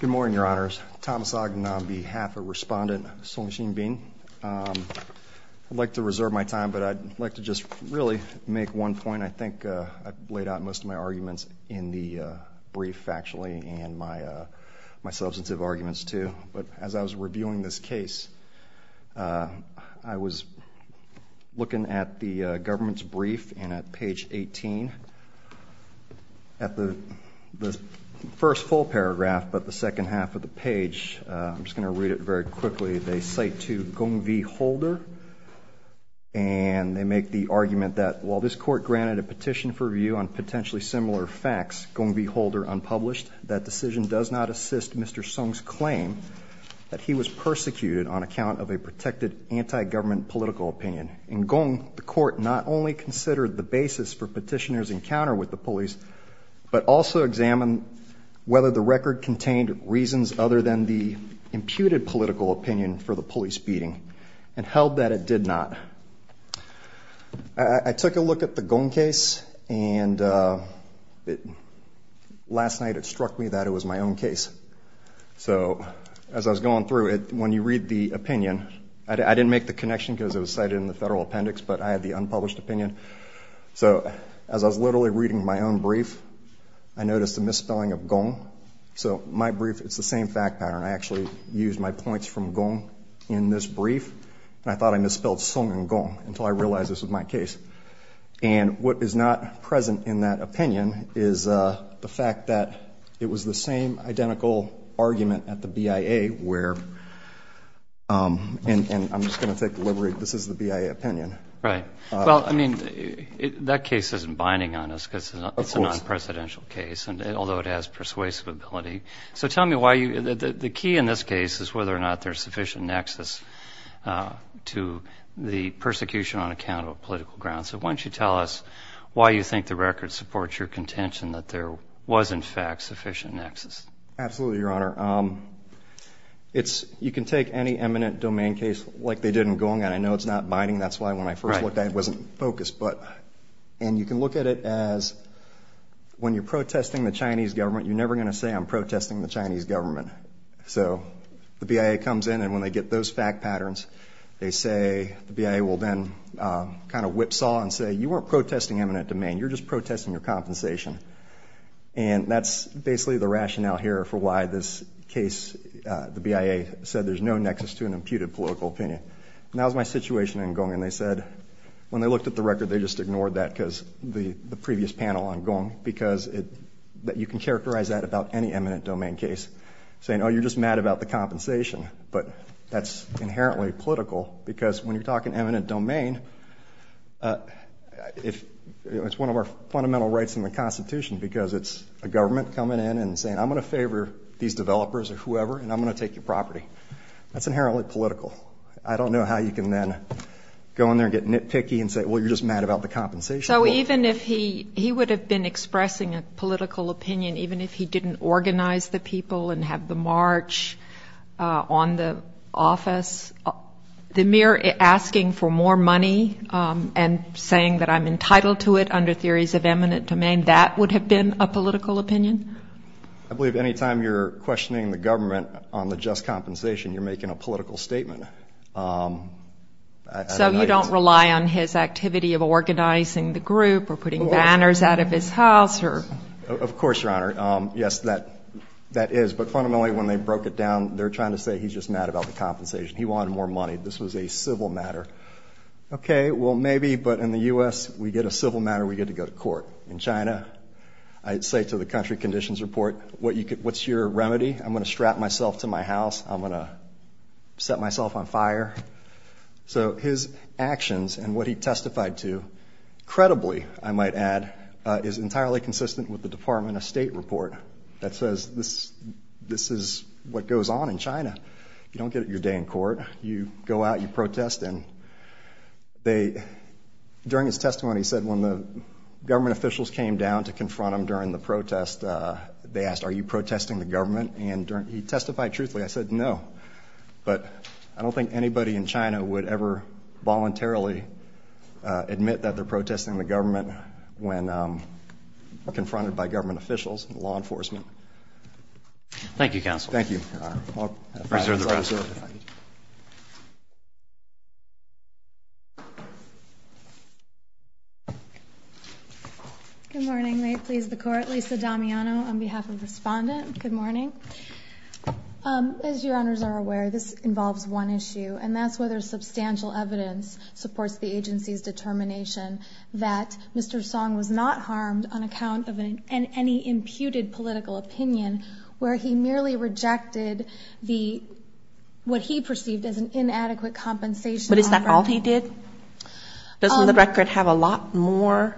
Good morning, Your Honors. Thomas Ogden on behalf of Respondent Song Xinbin. I'd like to reserve my time, but I'd like to just really make one point. I think I've laid out most of my arguments in the brief, actually, and my substantive arguments, too. But as I was the first full paragraph, but the second half of the page, I'm just going to read it very quickly. They cite to Gong V. Holder, and they make the argument that while this court granted a petition for review on potentially similar facts, Gong V. Holder unpublished, that decision does not assist Mr. Song's claim that he was persecuted on account of a protected anti-government political opinion. In Gong, the court not only considered the basis for whether the record contained reasons other than the imputed political opinion for the police beating, and held that it did not. I took a look at the Gong case, and last night it struck me that it was my own case. So as I was going through it, when you read the opinion, I didn't make the connection because it was cited in the federal appendix, but I had the unpublished opinion. So as I was literally reading my own brief, I noticed the misspelling of Gong. So my brief, it's the same fact pattern. I actually used my points from Gong in this brief, and I thought I misspelled Song and Gong until I realized this was my case. And what is not present in that opinion is the fact that it was the same identical argument at the BIA where, and I'm just going to take the liberty, this is the BIA opinion. Right. Well, I mean, that case isn't binding on us because it's a non-presidential case, and although it has persuasive ability. So tell me why you, the key in this case is whether or not there's sufficient nexus to the persecution on account of political grounds. So why don't you tell us why you think the record supports your contention that there was, in fact, sufficient nexus? Absolutely, Your Honor. It's, you can take any eminent domain case like they did in Gong, and I know it's not binding. That's why when I first looked at it, it wasn't focused. And you can look at it as when you're protesting the Chinese government, you're never going to say, I'm protesting the Chinese government. So the BIA comes in, and when they get those fact patterns, they say, the BIA will then kind of whipsaw and say, you weren't protesting eminent domain. You're just protesting your compensation. And that's basically the rationale here for why this case, the BIA said there's no nexus to an imputed political opinion. And that was my situation in Gong, and they said, when they looked at the record, they just ignored that because the previous panel on Gong, because you can characterize that about any eminent domain case, saying, oh, you're just mad about the compensation. But that's inherently political, because when you're talking eminent domain, it's one of our fundamental rights in the Constitution, because it's a government coming in and saying, I'm going to favor these developers or whoever, and I'm going to take your property. That's I don't know how you can then go in there and get nitpicky and say, well, you're just mad about the compensation. So even if he would have been expressing a political opinion, even if he didn't organize the people and have the march on the office, the mere asking for more money and saying that I'm entitled to it under theories of eminent domain, that would have been a political opinion? I believe any time you're questioning the government on the just compensation, you're a political statement. So you don't rely on his activity of organizing the group or putting banners out of his house Of course, Your Honor. Yes, that is. But fundamentally, when they broke it down, they're trying to say he's just mad about the compensation. He wanted more money. This was a civil matter. Okay. Well, maybe. But in the U.S., we get a civil matter, we get to go to court. In China, I'd say to the country conditions report, what's your remedy? I'm going to strap myself to my house. I'm going to set myself on fire. So his actions and what he testified to, credibly, I might add, is entirely consistent with the Department of State report that says this is what goes on in China. You don't get your day in court. You go out, you protest. And during his testimony, he said when the government officials came down to confront him during the protest, they asked, are you protesting the government? And he testified truthfully. I said, no. But I don't think anybody in China would ever voluntarily admit that they're protesting the government when confronted by government officials and law enforcement. Thank you, Counsel. Thank you, Your Honor. I'll reserve the rest of it if I could. Good morning. May it please the Court. Lisa Damiano on behalf of Respondent. Good morning. As Your Honors are aware, this involves one issue, and that's whether substantial evidence supports the agency's determination that Mr. Song was not harmed on account of any imputed political opinion, where he merely rejected the, what he perceived as an inadequate compensation offer. But is that all he did? Doesn't the record have a lot more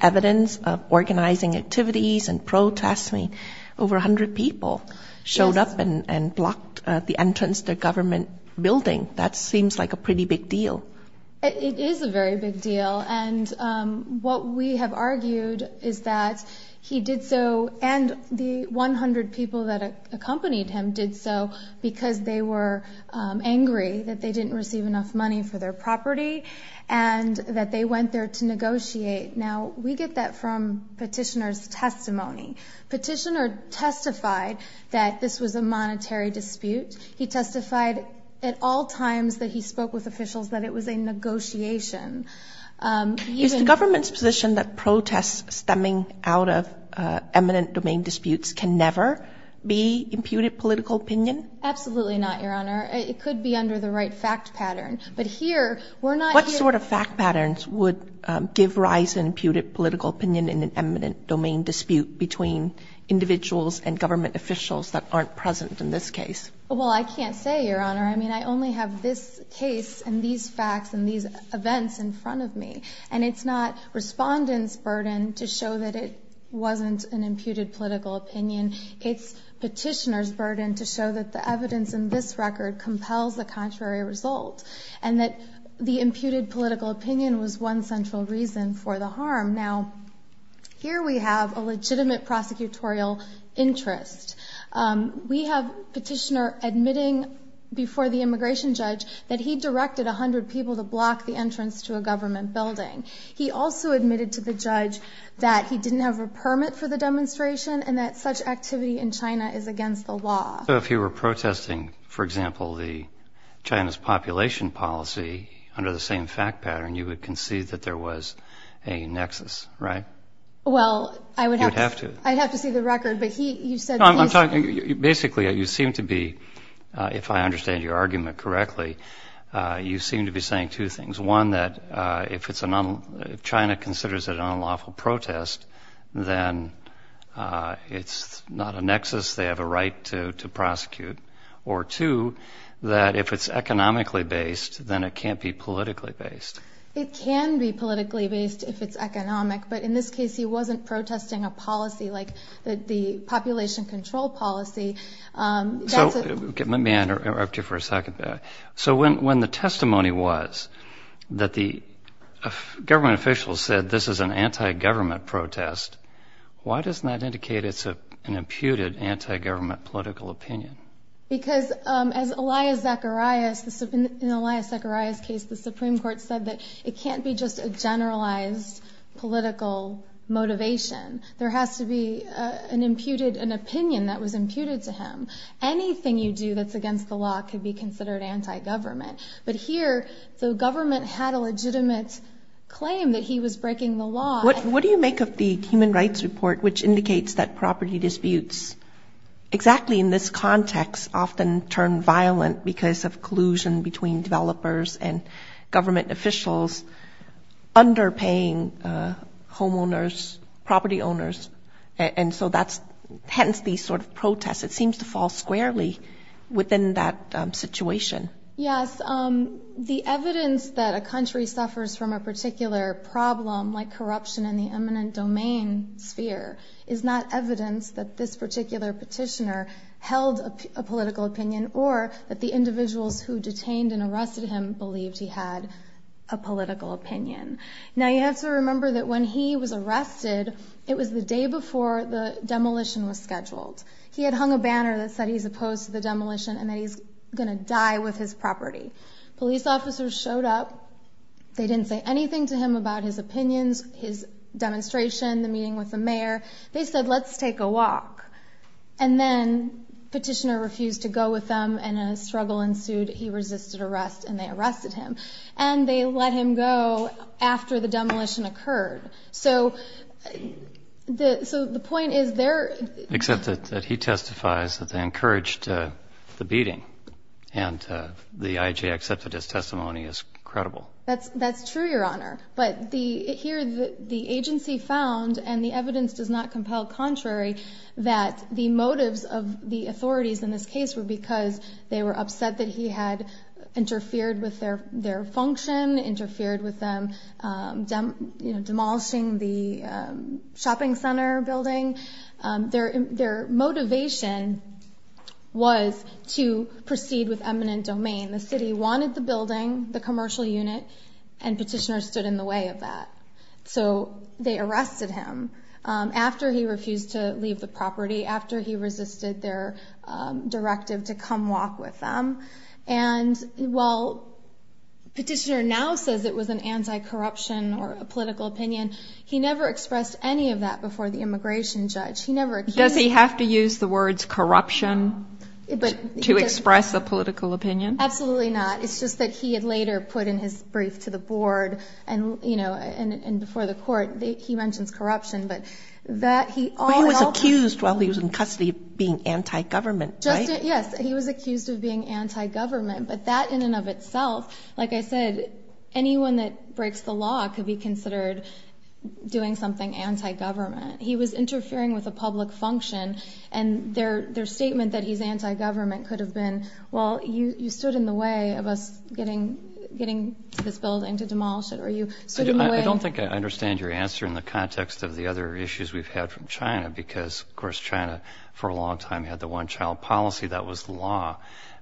evidence of organizing activities and protests? I mean, over 100 people showed up and blocked the entrance to a government building. That seems like a pretty big deal. It is a very big deal. And what we have argued is that he did so, and the 100 people that accompanied him did so because they were angry that they didn't receive enough money for their property and that they went there to negotiate. Now, we get that from Petitioner's testimony. Petitioner testified that this was a monetary dispute. He testified at all times that he spoke with Is the government's position that protests stemming out of eminent domain disputes can never be imputed political opinion? Absolutely not, Your Honor. It could be under the right fact pattern. But here, we're not What sort of fact patterns would give rise to imputed political opinion in an eminent domain dispute between individuals and government officials that aren't present in this case? Well, I can't say, Your Honor. I mean, I only have this case and these facts and these events in front of me. And it's not Respondent's burden to show that it wasn't an imputed political opinion. It's Petitioner's burden to show that the evidence in this record compels the contrary result and that the imputed political opinion was one central reason for the harm. Now, here we have a legitimate prosecutorial interest. We have Petitioner admitting before the immigration judge that he directed a hundred people to block the entrance to a government building. He also admitted to the judge that he didn't have a permit for the demonstration and that such activity in China is against the law. So if you were protesting, for example, the China's population policy under the same fact pattern, you would concede that there was a nexus, right? Well, I would have to. I'd have to see the record. But he, you said... No, I'm talking, basically, you seem to be, if I understand your argument correctly, you seem to be saying two things. One, that if it's a non, if China considers it an unlawful protest, then it's not a nexus. They have a right to prosecute. Or two, that if it's economically based, then it can't be politically based. It can be politically based if it's economic. But in this case, he wasn't protesting a policy like the population control policy. Let me interrupt you for a second. So when the testimony was that the government officials said this is an anti-government protest, why doesn't that indicate it's an imputed anti-government political opinion? Because as Elias Zacharias, in Elias Zacharias' case, the Supreme Court said that it can't be just a generalized political motivation. There has to be an imputed, an opinion that was imputed to him. Anything you do that's against the law can be considered anti-government. But here, the government had a legitimate claim that he was breaking the law. What do you make of the Human Rights Report, which indicates that property disputes, exactly in this context, often turn violent because of collusion between developers and government officials, underpaying homeowners, property owners. And so that's, hence, these sort of protests. It seems to fall squarely within that situation. Yes. The evidence that a country suffers from a particular problem, like corruption in the eminent domain sphere, is not evidence that this particular petitioner held a political opinion or that the individuals who detained and arrested him believed he had a political opinion. Now, you have to remember that when he was arrested, it was the day before the demolition was scheduled. He had hung a banner that said he's opposed to the demolition and that he's going to die with his property. Police officers showed up. They didn't say anything to him about his opinions, his demonstration, the meeting with the mayor. They said, let's take a walk. And then the petitioner refused to go with them, and a struggle ensued. He resisted arrest, and they arrested him. And they let him go after the demolition occurred. So the point is, they're... Except that he testifies that they encouraged the beating, and the IJ accepted his testimony as credible. That's true, Your Honor. But here, the agency found, and the evidence does not compel contrary, that the motives of the authorities in this case were because they were upset that he had interfered with their function, interfered with them demolishing the shopping center building. Their motivation was to proceed with eminent domain. The city wanted the building, the commercial unit, and petitioners stood in the way of that. So they arrested him after he refused to leave the property, after he resisted their directive to come walk with them. And while petitioner now says it was an anti-corruption or a political opinion, he never expressed any of that before the immigration judge. He never... Does he have to use the words corruption to express a political opinion? Absolutely not. It's just that he had later put in his brief to the board, and before the court, he mentions corruption, but that he... But he was accused while he was in custody of being anti-government, right? Yes, he was accused of being anti-government, but that in and of itself, like I said, anyone that breaks the law could be considered doing something anti-government. He was interfering with a public function, and their statement that he's anti-government could have been, well, you stood in the way of us getting this building to demolish it, or you stood in the way... I don't think I understand your answer in the context of the other issues we've had from China, because, of course, China for a long time had the one-child policy that was the law.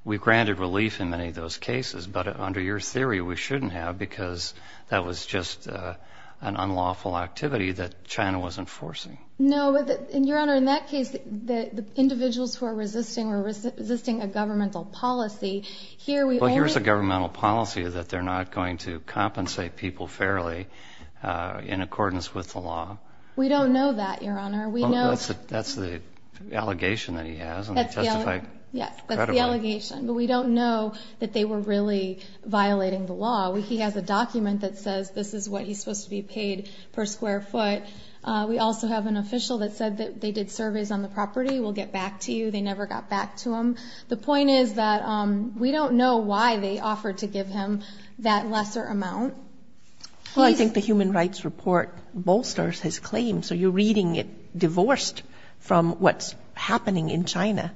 We granted relief in many of those cases, but under your theory, we shouldn't have because that was just an unlawful activity that China wasn't forcing. No, but, Your Honor, in that case, the individuals who are resisting were resisting a governmental policy. Here, we... Well, here's a governmental policy that they're not going to compensate people fairly in accordance with the law. We don't know that, Your Honor. We know... That's the allegation that he has, and he testified credibly. Yes, that's the allegation, but we don't know that they were really violating the law. He has a document that says this is what he's supposed to be paid per square foot. We also have an official that said that they did surveys on the property. We'll get back to you. They never got back to him. The point is that we don't know why they offered to give him that lesser amount. Well, I think the Human Rights Report bolsters his claim, so you're reading it divorced from what's happening in China.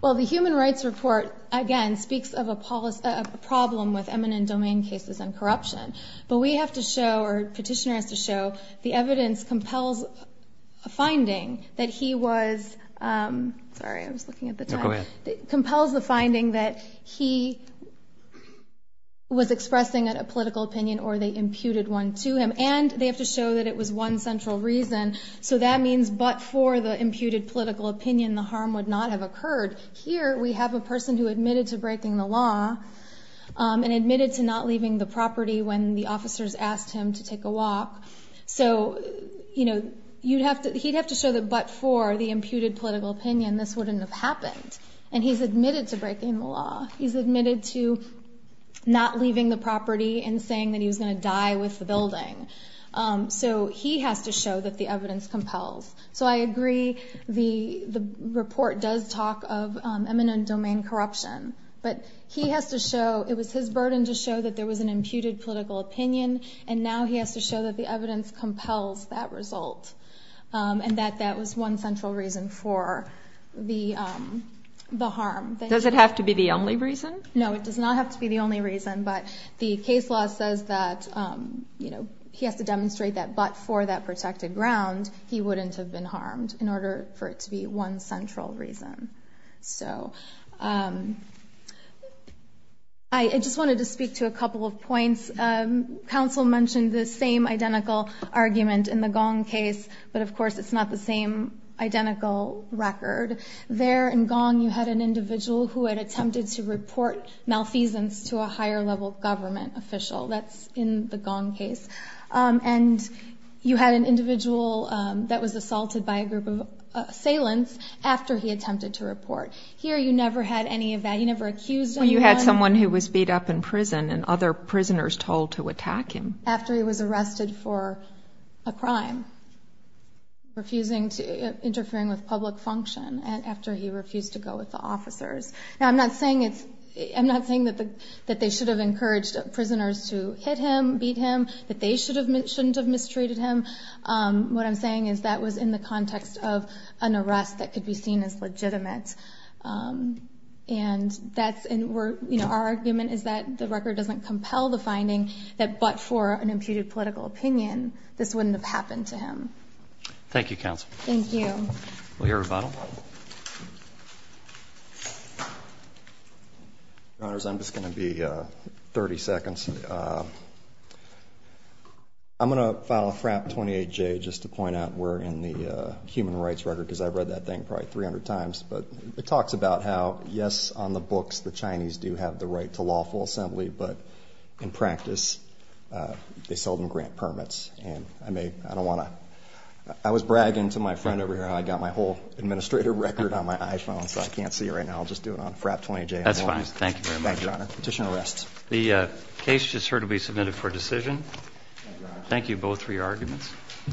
Well, the Human Rights Report, again, speaks of a problem with eminent domain cases and corruption, but we have to show, or Petitioner has to show, the evidence compels a finding that he was... Sorry, I was looking at the time. No, go ahead. ...compels the finding that he was expressing a political opinion or they imputed one to him, and they have to show that it was one central reason, so that means but for the imputed political opinion, the harm would not have occurred. Here we have a person who admitted to breaking the law and admitted to not leaving the property when the officers asked him to take a walk, so he'd have to show that but for the imputed political opinion, this wouldn't have happened, and he's admitted to breaking the law. He's admitted to not leaving the property and saying that he was going to die with the building, so he has to show that the evidence compels. So I agree the report does talk of eminent domain corruption, but he has to show it was his burden to show that there was an imputed political opinion, and now he has to show that the evidence compels that result, and that that was one central reason for the harm. Does it have to be the only reason? No, it does not have to be the only reason, but the case law says that he has to demonstrate that but for that protected ground, he wouldn't have been harmed in order for it to be one central reason. I just wanted to speak to a couple of points. Counsel mentioned the same identical argument in the Gong case, but of course it's not the same identical record. There in Gong you had an individual who had attempted to report malfeasance to a higher level government official. That's in the Gong case, and you had an individual that was assaulted by a group of assailants after he attempted to report. Here you never had any of that. He never accused anyone. You had someone who was beat up in prison and other prisoners told to attack him. After he was arrested for a crime, refusing to, interfering with public function, and after he refused to go with the officers. Now I'm not saying it's, I'm not saying that they should have encouraged prisoners to hit him, beat him, that they shouldn't have mistreated him. What I'm saying is that was in the context of an arrest that could be seen as legitimate. And that's, and we're, you know, our argument is that the record doesn't compel the finding that but for an imputed political opinion, this wouldn't have happened to him. Thank you, Counsel. Thank you. Will you rebuttal? Your Honors, I'm just going to be 30 seconds. I'm going to file a FRAP 28J just to point out we're in the human rights record because I've read that thing probably 300 times. But it talks about how, yes, on the books the Chinese do have the right to lawful assembly, but in practice they seldom grant permits. And I may, I don't want to, I was bragging to my friend over here how I got my whole administrator record on my iPhone so I can't see it right now. I'll just do it on FRAP 28J. That's fine. Thank you very much. Thank you, Your Honor. Petitioner rests. The case just heard will be submitted for decision. Thank you both for your arguments.